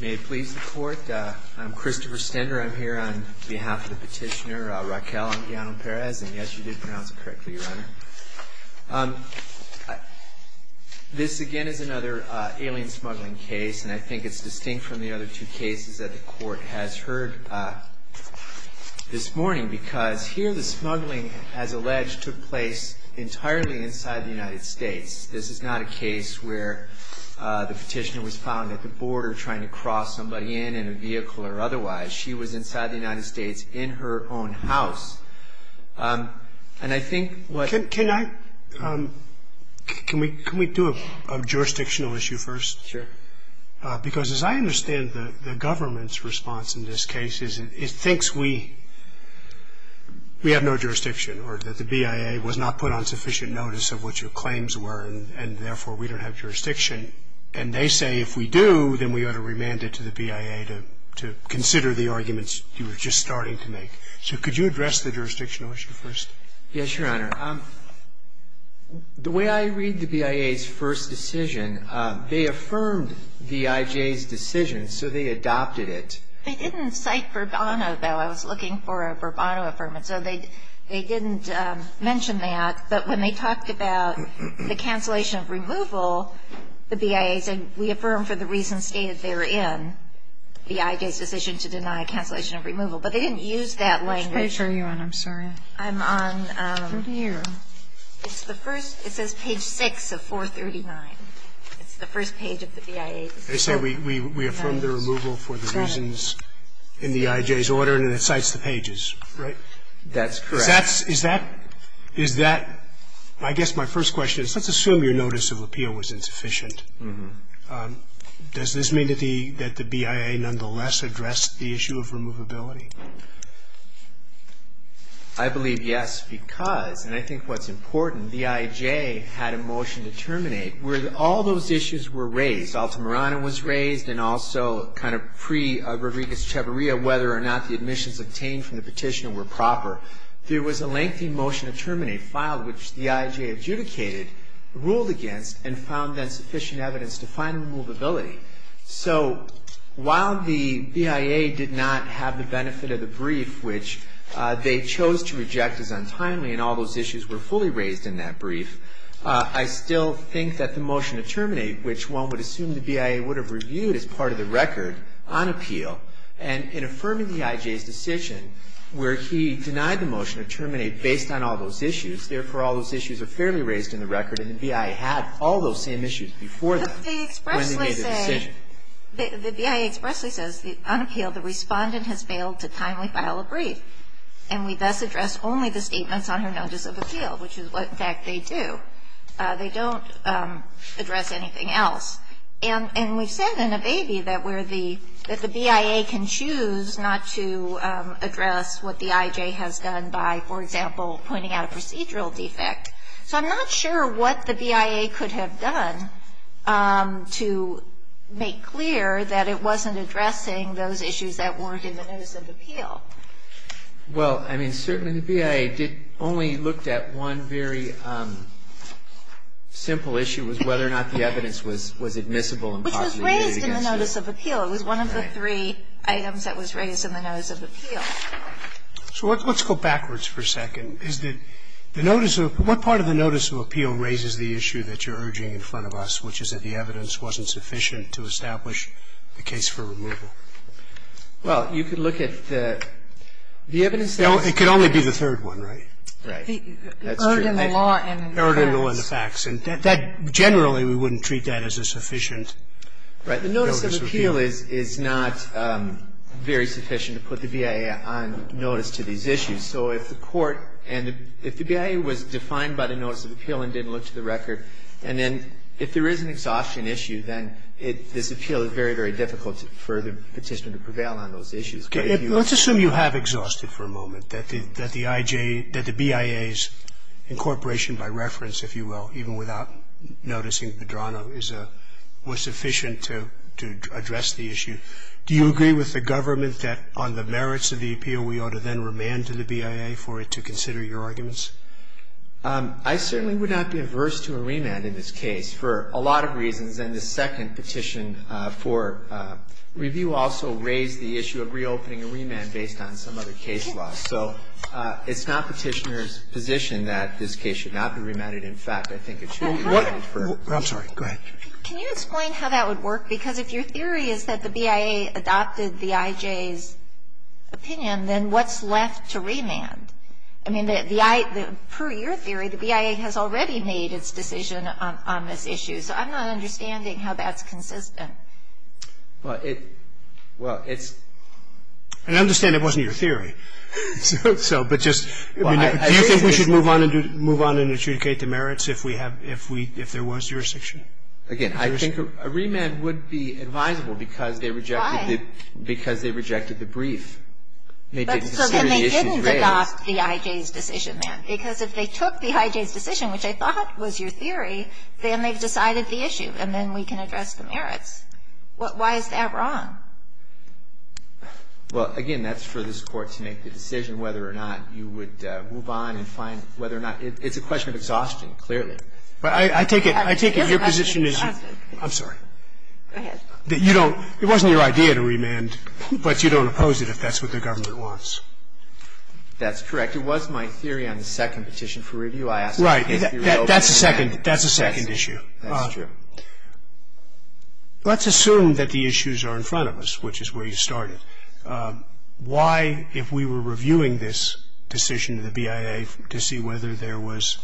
May it please the Court, I'm Christopher Stender, I'm here on behalf of the petitioner Raquel Anduiano-Perez, and yes, you did pronounce it correctly, Your Honor. This, again, is another alien smuggling case, and I think it's distinct from the other two cases that the Court has heard this morning, because here the smuggling, as alleged, took place entirely inside the United States. This is not a case where the petitioner was found at the border trying to cross somebody in, in a vehicle or otherwise. She was inside the United States in her own house, and I think what... Can we do a jurisdictional issue first? Sure. Because as I understand the government's response in this case is it thinks we have no jurisdiction, or that the BIA was not put on sufficient notice of what your claims were, and therefore we don't have jurisdiction. And they say if we do, then we ought to remand it to the BIA to consider the arguments you were just starting to make. So could you address the jurisdictional issue first? Yes, Your Honor. The way I read the BIA's first decision, they affirmed VIJ's decision, so they adopted it. They didn't cite Burbano, though. I was looking for a Burbano affirmance. So they didn't mention that. But when they talked about the cancellation of removal, the BIA said, we affirm for the reasons stated therein, VIJ's decision to deny cancellation of removal. But they didn't use that language. Which page are you on? I'm sorry. I'm on... Over here. It's the first. It says page 6 of 439. It's the first page of the BIA. They say we affirm the removal for the reasons in VIJ's order, and it cites the pages, right? That's correct. Is that – is that – I guess my first question is let's assume your notice of appeal was insufficient. Does this mean that the – that the BIA nonetheless addressed the issue of removability? I believe yes, because, and I think what's important, VIJ had a motion to terminate where all those issues were raised. Altamirano was raised, and also kind of pre-Rodriguez-Ceballo, whether or not the admissions obtained from the petitioner were proper. There was a lengthy motion to terminate filed, which VIJ adjudicated, ruled against, and found then sufficient evidence to find removability. So while the BIA did not have the benefit of the brief, which they chose to reject as untimely, and all those issues were fully raised in that brief, I still think that the motion to terminate, which one would assume the BIA would have reviewed as part of the record on appeal, and in affirming VIJ's decision where he denied the motion to terminate based on all those issues, therefore all those issues are fairly raised in the record, and the BIA had all those same issues before that when they made the decision. But they expressly say – the BIA expressly says on appeal the respondent has failed to timely file a brief, and we thus address only the statements on her notice of appeal, which is what, in fact, they do. They don't address anything else. And we've said in Avey that where the – that the BIA can choose not to address what the IJ has done by, for example, pointing out a procedural defect. So I'm not sure what the BIA could have done to make clear that it wasn't addressing those issues that weren't in the notice of appeal. Well, I mean, certainly the BIA did – only looked at one very simple issue, was whether or not the evidence was admissible and positive. Which was raised in the notice of appeal. It was one of the three items that was raised in the notice of appeal. So let's go backwards for a second. Is the notice of – what part of the notice of appeal raises the issue that you're urging in front of us, which is that the evidence wasn't sufficient to establish the case for removal? Well, you could look at the evidence that's – It could only be the third one, right? Right. That's true. Urging the law and the facts. Urging the law and the facts. And that – generally, we wouldn't treat that as a sufficient notice of appeal. Right. The notice of appeal is not very sufficient to put the BIA on notice to these issues. So if the Court and the – if the BIA was defined by the notice of appeal and didn't look to the record, and then if there is an exhaustion issue, then it – this appeal is very, very difficult for the petitioner to prevail on those issues. Let's assume you have exhausted for a moment that the IJ – that the BIA's incorporation by reference, if you will, even without noticing Pedrano, is a – was sufficient to address the issue. Do you agree with the government that on the merits of the appeal, we ought to then remand to the BIA for it to consider your arguments? I certainly would not be averse to a remand in this case for a lot of reasons. And the second petition for review also raised the issue of reopening a remand based on some other case law. So it's not Petitioner's position that this case should not be remanded. In fact, I think it should be remanded for her. I'm sorry. Go ahead. Can you explain how that would work? Because if your theory is that the BIA adopted the IJ's opinion, then what's left to remand? I mean, the I – per your theory, the BIA has already made its decision on this issue. So I'm not understanding how that's consistent. Well, it – well, it's – And I understand it wasn't your theory. So – but just – do you think we should move on and do – move on and adjudicate the merits if we have – if we – if there was jurisdiction? Again, I think a remand would be advisable because they rejected the – Because they rejected the brief. They didn't consider the issues raised. But so then they didn't adopt the IJ's decision then. Because if they took the IJ's decision, which I thought was your theory, then they've decided the issue, and then we can address the merits. Why is that wrong? Well, again, that's for this Court to make the decision whether or not you would move on and find whether or not – it's a question of exhaustion, clearly. But I take it – I take it your position is – It is a question of exhaustion. I'm sorry. Go ahead. That you don't – it wasn't your idea to remand, but you don't oppose it if that's what the government wants. That's correct. It was my theory on the second petition for review. I asked if you were open to that. That's a second – that's a second issue. That's true. Let's assume that the issues are in front of us, which is where you started. Why, if we were reviewing this decision of the BIA to see whether there was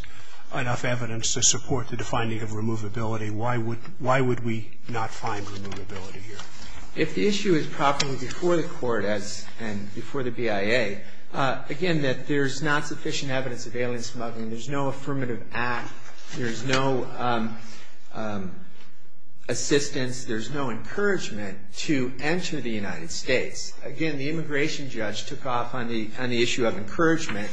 enough evidence to support the defining of removability, why would – why would we not find removability here? If the issue is properly before the Court as – and before the BIA, again, that there's not sufficient evidence of alien smuggling, there's no affirmative act, there's no assistance, there's no encouragement to enter the United States. Again, the immigration judge took off on the – on the issue of encouragement,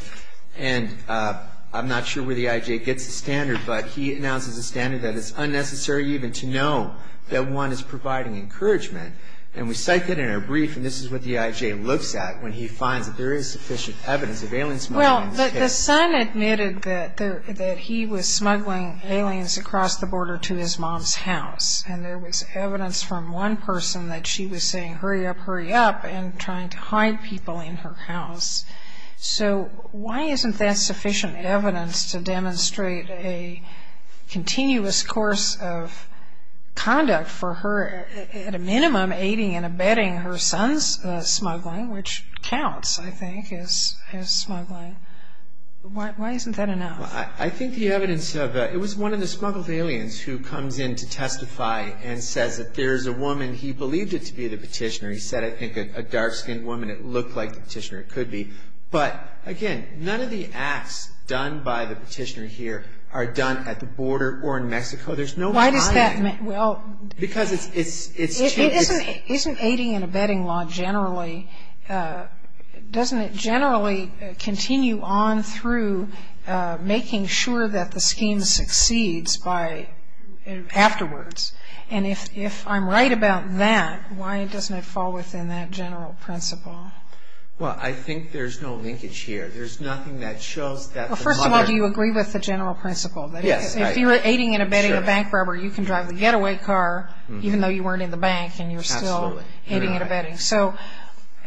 and I'm not sure where the IJ gets the standard, but he announces a standard that it's unnecessary even to know that one is providing encouragement. And we cite that in our brief, and this is what the IJ looks at when he finds that there is sufficient evidence of alien smuggling. Well, the son admitted that there – that he was smuggling aliens across the border to his mom's house, and there was evidence from one person that she was saying, hurry up, hurry up, and trying to hide people in her house. So why isn't that sufficient evidence to demonstrate a continuous course of conduct for her, at a minimum, aiding and abetting her son's smuggling, which counts, I think, as smuggling? Why isn't that enough? I think the evidence of – it was one of the smuggled aliens who comes in to testify and says that there's a woman – he believed it to be the petitioner. He said, I think, a dark-skinned woman. It looked like the petitioner. It could be. But, again, none of the acts done by the petitioner here are done at the border or in Mexico. There's no – Why does that – well – Because it's – Isn't aiding and abetting law generally – doesn't it generally continue on through making sure that the scheme succeeds by – afterwards? And if I'm right about that, why doesn't it fall within that general principle? Well, I think there's no linkage here. There's nothing that shows that the mother – Well, first of all, do you agree with the general principle? Yes. Because if you're aiding and abetting a bank robber, you can drive the getaway car even though you weren't in the bank and you're still aiding and abetting. So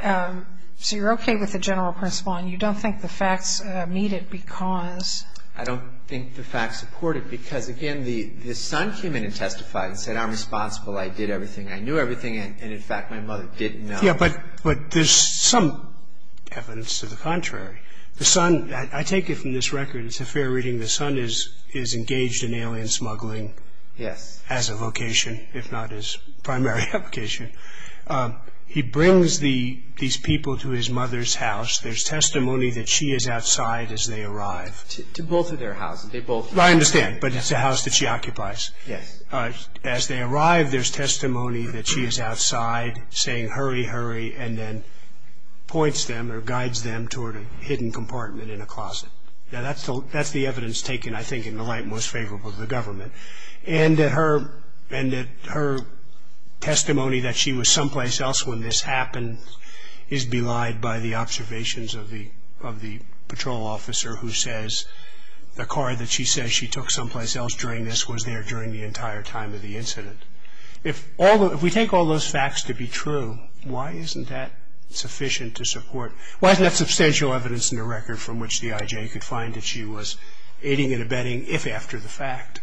you're okay with the general principle and you don't think the facts meet it because – I don't think the facts support it because, again, the son came in and testified and said, I'm responsible, I did everything, I knew everything, and, in fact, my mother didn't know. Yeah, but there's some evidence to the contrary. The son – I take it from this record, it's a fair reading. The son is engaged in alien smuggling as a vocation, if not his primary vocation. He brings these people to his mother's house. There's testimony that she is outside as they arrive. To both of their houses, they both – I understand, but it's the house that she occupies. Yes. As they arrive, there's testimony that she is outside saying, hurry, hurry, and then points them or guides them toward a hidden compartment in a closet. Now, that's the evidence taken, I think, in the light most favorable to the government, and that her testimony that she was someplace else when this happened is belied by the observations of the patrol officer who says the car that she says she took someplace else during this was there during the entire time of the incident. If we take all those facts to be true, why isn't that sufficient to support – why isn't that substantial evidence in the record from which the I.J. could find that she was aiding and abetting if after the fact?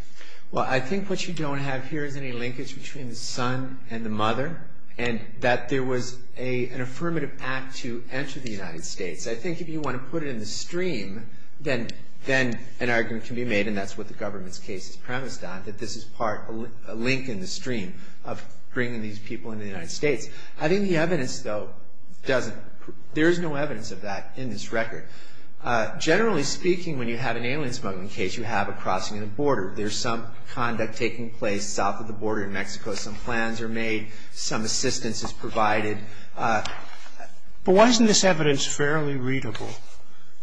Well, I think what you don't have here is any linkage between the son and the mother and that there was an affirmative act to enter the United States. I think if you want to put it in the stream, then an argument can be made, and that's what the government's case is premised on, that this is part – a link in the stream of bringing these people into the United States. I think the evidence, though, doesn't – there is no evidence of that in this record. Generally speaking, when you have an alien smuggling case, you have a crossing and a border. There's some conduct taking place south of the border in Mexico. Some plans are made. Some assistance is provided. But why isn't this evidence fairly readable?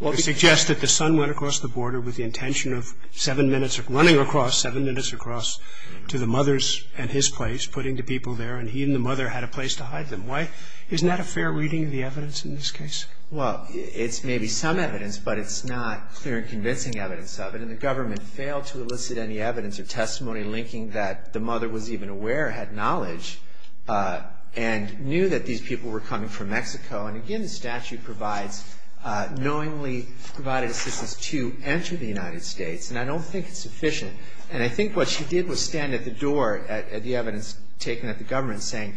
It suggests that the son went across the border with the intention of seven minutes – running across seven minutes across to the mother's and his place, putting the people there, and he and the mother had a place to hide them. Why – isn't that a fair reading of the evidence in this case? Well, it's maybe some evidence, but it's not clear and convincing evidence of it, and the government failed to elicit any evidence or testimony linking that the mother was even aware, had knowledge, and knew that these people were coming from Mexico. And again, the statute provides knowingly provided assistance to enter the United States, and I don't think it's sufficient. And I think what she did was stand at the door at the evidence taken at the government saying,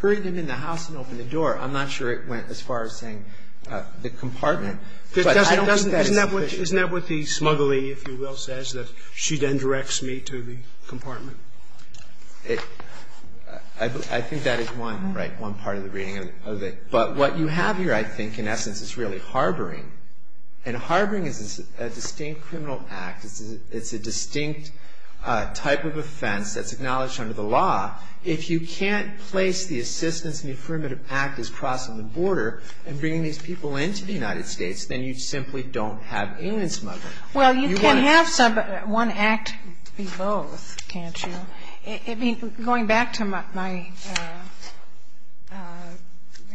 hurry them in the house and open the door. I'm not sure it went as far as saying the compartment. But I don't think that is sufficient. Isn't that what the smuggler, if you will, says, that she then directs me to the compartment? I think that is one, right, one part of the reading of it. But what you have here, I think, in essence, is really harboring. And harboring is a distinct criminal act. It's a distinct type of offense that's acknowledged under the law. If you can't place the assistance and the affirmative act as crossing the border and bringing these people into the United States, then you simply don't have alien smuggling. Well, you can have one act be both, can't you? Going back to my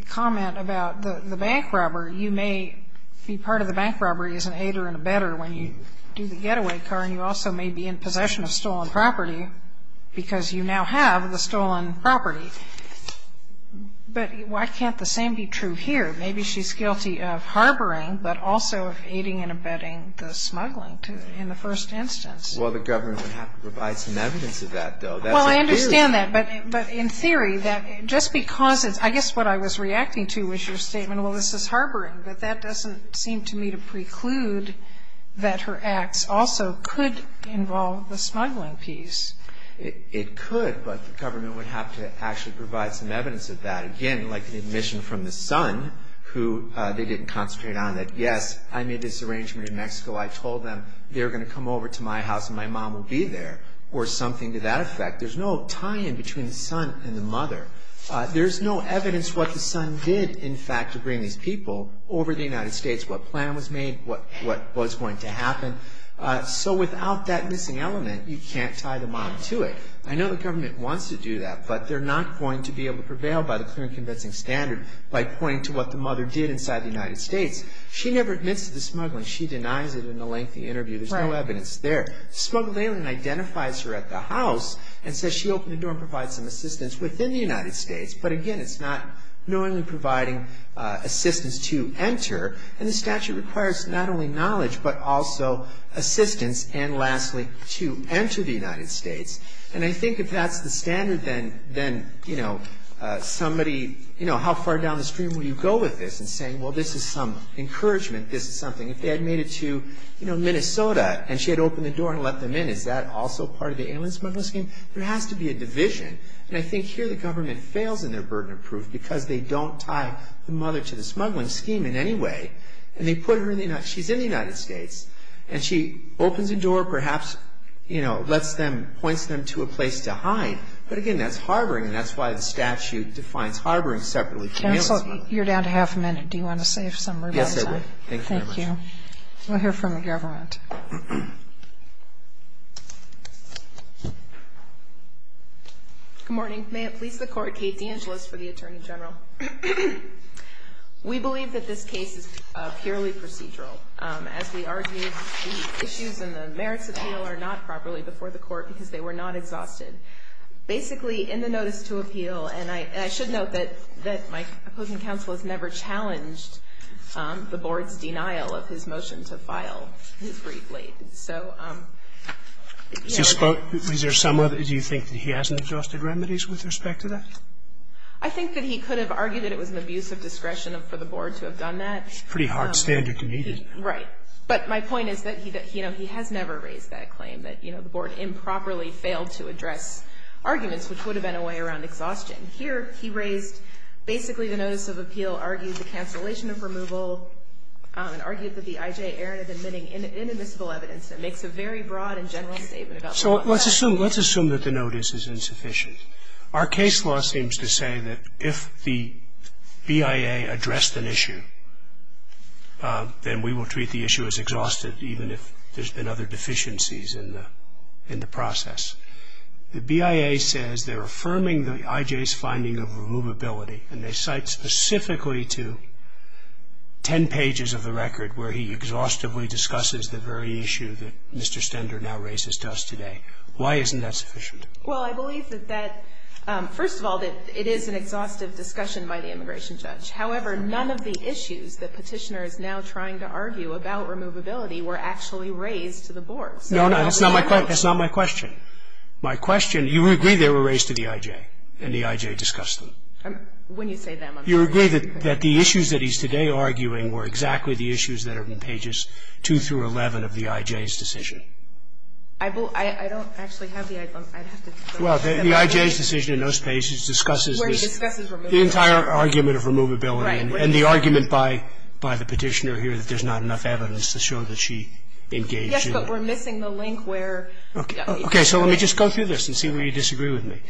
comment about the bank robbery, you may be part of the bank robbery as an aider and abetter when you do the getaway car, and you also may be in possession of stolen property because you now have the stolen property. But why can't the same be true here? Maybe she's guilty of harboring, but also of aiding and abetting the smuggling in the first instance. Well, the government would have to provide some evidence of that, though. Well, I understand that, but in theory, just because it's – I guess what I was reacting to was your statement, well, this is harboring, but that doesn't seem to me to preclude that her acts also could involve the smuggling piece. It could, but the government would have to actually provide some evidence of that. Again, like the admission from the son, who they didn't concentrate on it. Yes, I made this arrangement in Mexico. I told them they were going to come over to my house and my mom would be there, or something to that effect. There's no tie-in between the son and the mother. There's no evidence what the son did, in fact, to bring these people over to the United States, what plan was made, what was going to happen. So without that missing element, you can't tie the mom to it. I know the government wants to do that, but they're not going to be able to prevail by the clear and convincing standard by pointing to what the mother did inside the United States. She never admits to the smuggling. She denies it in a lengthy interview. There's no evidence there. Smuggled alien identifies her at the house and says she opened the door and provides some assistance within the United States. But again, it's not knowingly providing assistance to enter. And the statute requires not only knowledge, but also assistance, and lastly, to enter the United States. And I think if that's the standard, then, you know, somebody, you know, how far down the stream will you go with this in saying, well, this is some encouragement, this is something. If they had made it to, you know, Minnesota, and she had opened the door and let them in, is that also part of the alien smuggling scheme? There has to be a division. And I think here the government fails in their burden of proof because they don't tie the mother to the smuggling scheme in any way. And they put her in the United States. And she opens a door, perhaps, you know, lets them, points them to a place to hide. But again, that's harboring, that's why the statute defines harboring separately from the smuggling. Counsel, you're down to half a minute. Do you want to save some rebuttal time? Yes, I will. Thank you very much. Thank you. We'll hear from the government. Good morning. May it please the Court, Kate DeAngelis for the Attorney General. We believe that this case is purely procedural. As we argued, the issues and the merits at hand are not properly before the Court because they were not exhausted. Basically, in the notice to appeal, and I should note that my opposing counsel has never challenged the Board's denial of his motion to file this briefly. So, you know. Is there some other, do you think that he hasn't exhausted remedies with respect to that? I think that he could have argued that it was an abuse of discretion for the Board to have done that. Pretty hard standard to meet, isn't it? Right. But my point is that, you know, he has never raised that claim, that, you know, the Board improperly failed to address arguments, which would have been a way around exhaustion. Here, he raised, basically, the notice of appeal, argued the cancellation of removal, and argued that the I.J. Aaron had been admitting inadmissible evidence, and makes a very broad and general statement about that. So let's assume, let's assume that the notice is insufficient. Our case law seems to say that if the BIA addressed an issue, then we will treat the issue as exhausted, even if there's been other deficiencies in the process. The BIA says they're affirming the I.J.'s finding of removability, and they cite specifically to 10 pages of the record where he exhaustively discusses the very issue that Mr. Stender now raises to us today. Why isn't that sufficient? Well, I believe that that, first of all, that it is an exhaustive discussion by the immigration judge. However, none of the issues that Petitioner is now trying to argue about removability were actually raised to the board. No, no. That's not my question. My question, you agree they were raised to the I.J. and the I.J. discussed them. When you say them, I'm not saying anything. You agree that the issues that he's today arguing were exactly the issues that are in pages 2 through 11 of the I.J.'s decision. I don't actually have the I.J. Well, the I.J.'s decision in those pages discusses the entire argument of removability. Right. And the argument by the Petitioner here that there's not enough evidence to show that she engaged in it. Yes, but we're missing the link where the I.J. Okay. So let me just go through this and see where you disagree with me.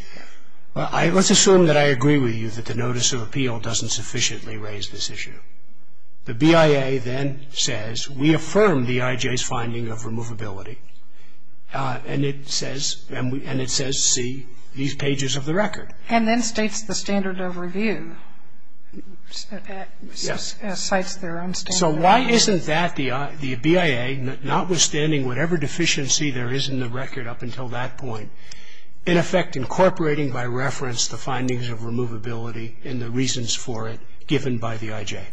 Let's assume that I agree with you that the notice of appeal doesn't sufficiently raise this issue. The BIA then says we affirm the I.J.'s finding of removability, and it says see these pages of the record. And then states the standard of review. Yes. Cites their own standard of review. So why isn't that the BIA, notwithstanding whatever deficiency there is in the record up until that point, in effect incorporating by reference the findings of removability and the reasons for it given by the I.J.?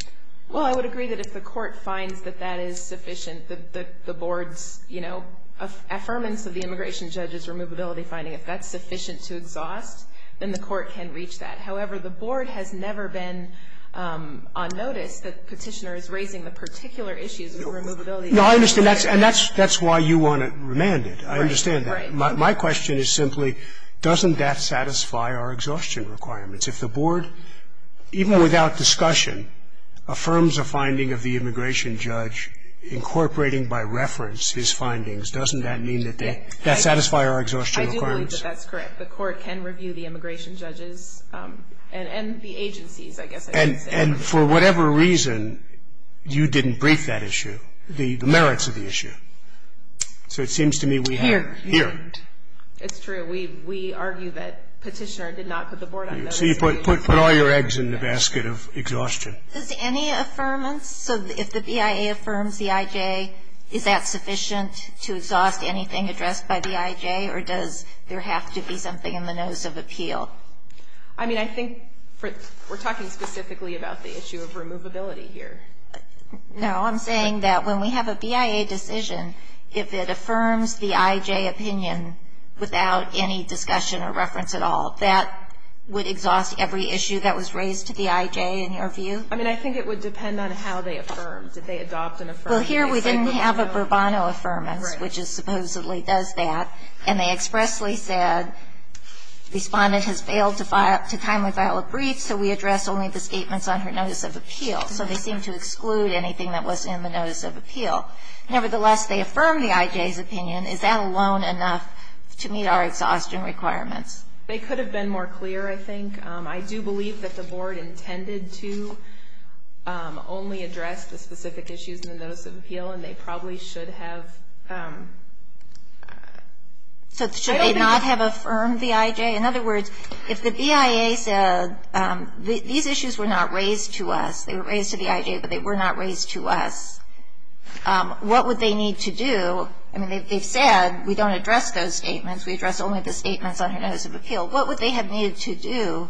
Well, I would agree that if the Court finds that that is sufficient, that the Board's, you know, affirmance of the immigration judge's removability finding, if that's sufficient to exhaust, then the Court can reach that. However, the Board has never been on notice that Petitioner is raising the particular issues with removability. No, I understand. And that's why you want to remand it. I understand that. My question is simply doesn't that satisfy our exhaustion requirements? If the Board, even without discussion, affirms a finding of the immigration judge incorporating by reference his findings, doesn't that mean that they satisfy our exhaustion requirements? I believe that that's correct. The Court can review the immigration judge's and the agency's, I guess I should say. And for whatever reason, you didn't brief that issue, the merits of the issue. So it seems to me we have. Here. Here. It's true. We argue that Petitioner did not put the Board on notice. So you put all your eggs in the basket of exhaustion. Does any affirmance, so if the BIA affirms the I.J., is that sufficient to exhaust anything addressed by the I.J., or does there have to be something in the notice of appeal? I mean, I think we're talking specifically about the issue of removability here. No. I'm saying that when we have a BIA decision, if it affirms the I.J. opinion without any discussion or reference at all, that would exhaust every issue that was raised to the I.J., in your view? I mean, I think it would depend on how they affirmed. Did they adopt and affirm? Well, here we didn't have a Burbano affirmance, which supposedly does that. And they expressly said, Respondent has failed to timely file a brief, so we address only the statements on her notice of appeal. So they seem to exclude anything that wasn't in the notice of appeal. Nevertheless, they affirm the I.J.'s opinion. Is that alone enough to meet our exhaustion requirements? They could have been more clear, I think. I do believe that the Board intended to only address the specific issues in the notice of appeal, and they probably should have. So should they not have affirmed the I.J.? In other words, if the BIA said these issues were not raised to us, they were raised to the I.J., but they were not raised to us, what would they need to do? I mean, they've said we don't address those statements, we address only the statements on her notice of appeal. What would they have needed to do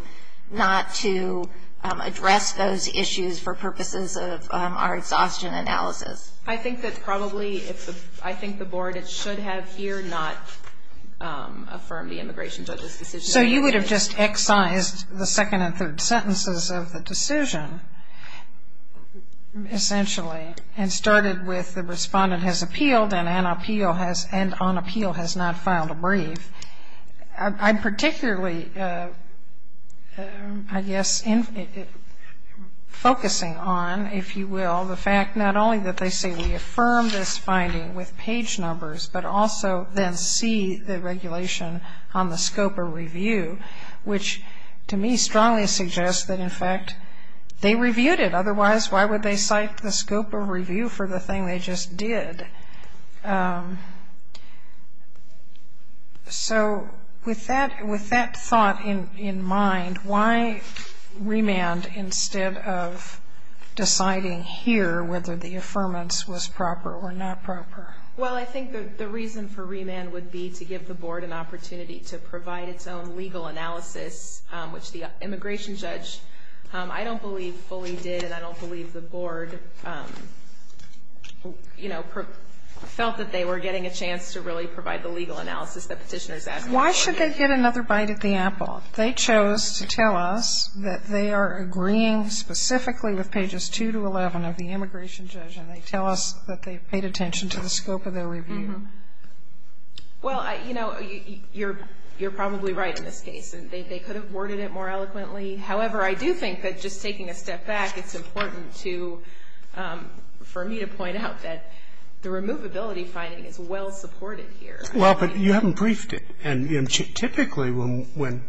not to address those issues for purposes of our exhaustion analysis? I think that probably, I think the Board, it should have here not affirmed the immigration judge's decision. So you would have just excised the second and third sentences of the decision, essentially, and started with the Respondent has appealed and on appeal has not filed a brief. I'm particularly, I guess, focusing on, if you will, the fact not only that they say we affirm this finding with page numbers, but also then see the regulation on the scope of review, which to me strongly suggests that, in fact, they reviewed it. Otherwise, why would they cite the scope of review for the thing they just did? So with that thought in mind, why remand instead of deciding here whether the affirmance was proper or not proper? Well, I think the reason for remand would be to give the Board an opportunity to provide its own legal analysis, which the immigration judge I don't believe fully did and I don't believe the Board, you know, felt that they were getting a chance to really provide the legal analysis that petitioners asked for. Why should they get another bite at the apple? They chose to tell us that they are agreeing specifically with pages 2 to 11 of the immigration judge and they tell us that they paid attention to the scope of their review. Well, you know, you're probably right in this case. They could have worded it more eloquently. However, I do think that just taking a step back, it's important for me to point out that the removability finding is well supported here. Well, but you haven't briefed it. And typically when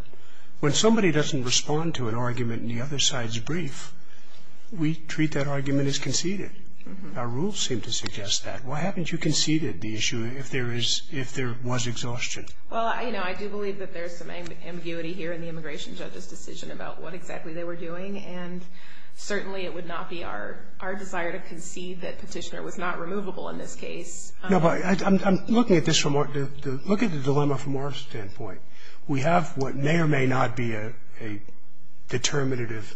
somebody doesn't respond to an argument in the other side's brief, we treat that argument as conceded. Our rules seem to suggest that. Why haven't you conceded the issue if there was exhaustion? Well, you know, I do believe that there's some ambiguity here in the immigration judge's decision about what exactly they were doing, and certainly it would not be our desire to concede that Petitioner was not removable in this case. No, but I'm looking at this from the dilemma from our standpoint. We have what may or may not be a determinative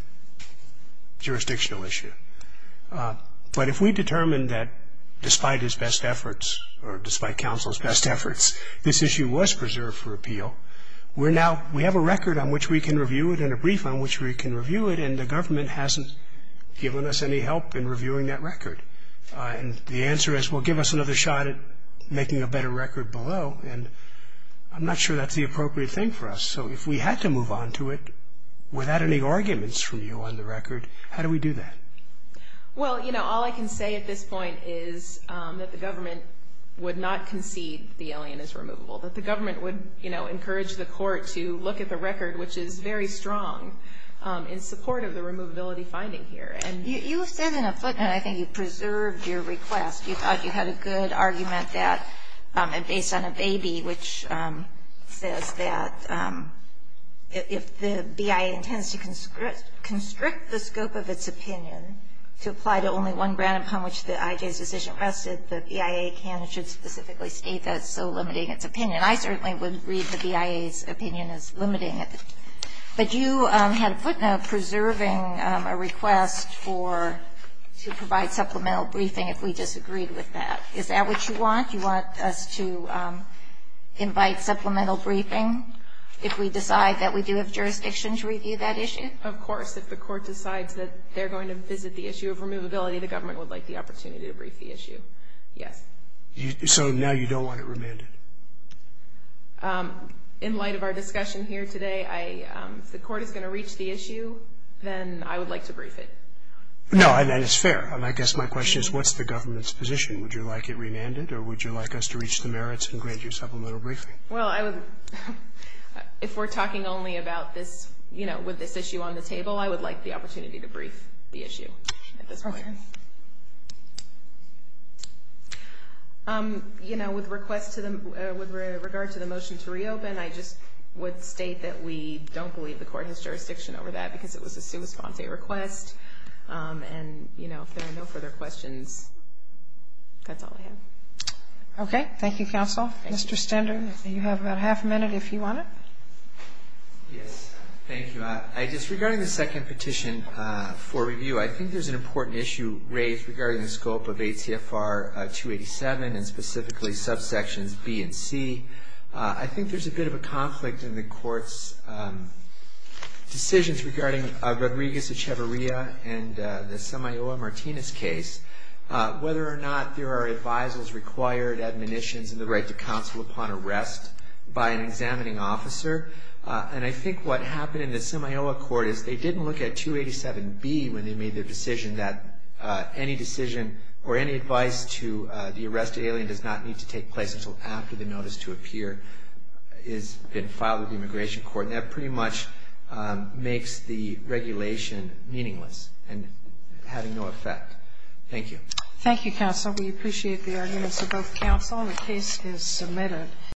jurisdictional issue. But if we determine that despite his best efforts or despite counsel's best efforts, this issue was preserved for appeal, we have a record on which we can review it and a brief on which we can review it, and the government hasn't given us any help in reviewing that record. And the answer is, well, give us another shot at making a better record below. And I'm not sure that's the appropriate thing for us. So if we had to move on to it without any arguments from you on the record, how do we do that? Well, you know, all I can say at this point is that the government would not concede the alien is removable, that the government would, you know, encourage the court to look at the record, which is very strong in support of the removability finding here. You said in a footnote, I think you preserved your request. You thought you had a good argument based on a baby, which says that if the BIA intends to constrict the scope of its opinion to apply to only one grant upon which the IJ's decision rested, the BIA can and should specifically state that it's so limiting its opinion. I certainly would read the BIA's opinion as limiting it. But you had a footnote preserving a request for to provide supplemental briefing if we disagreed with that. Is that what you want? You want us to invite supplemental briefing if we decide that we do have jurisdiction to review that issue? I think, of course, if the court decides that they're going to visit the issue of removability, the government would like the opportunity to brief the issue. Yes. So now you don't want it remanded? In light of our discussion here today, if the court is going to reach the issue, then I would like to brief it. No, and it's fair. I guess my question is what's the government's position? Would you like it remanded, or would you like us to reach the merits and grant you supplemental briefing? Well, if we're talking only about this, you know, with this issue on the table, I would like the opportunity to brief the issue at this point. Okay. You know, with regard to the motion to reopen, I just would state that we don't believe the court has jurisdiction over that because it was a sua sponte request. And, you know, if there are no further questions, that's all I have. Okay. Thank you, counsel. Mr. Stender, you have about half a minute if you want it. Yes. Thank you. Regarding the second petition for review, I think there's an important issue raised regarding the scope of ACFR 287 and specifically subsections B and C. I think there's a bit of a conflict in the Court's decisions regarding Rodriguez Echevarria and the Semiola-Martinez case. Whether or not there are advisals required, admonitions and the right to counsel upon arrest by an examining officer. And I think what happened in the Semiola court is they didn't look at 287B when they made the decision that any decision or any advice to the arrested alien does not need to take place until after the notice to appear has been filed with the Immigration Court. And that pretty much makes the regulation meaningless and having no effect. Thank you. Thank you, counsel. We appreciate the arguments of both counsel. The case is submitted.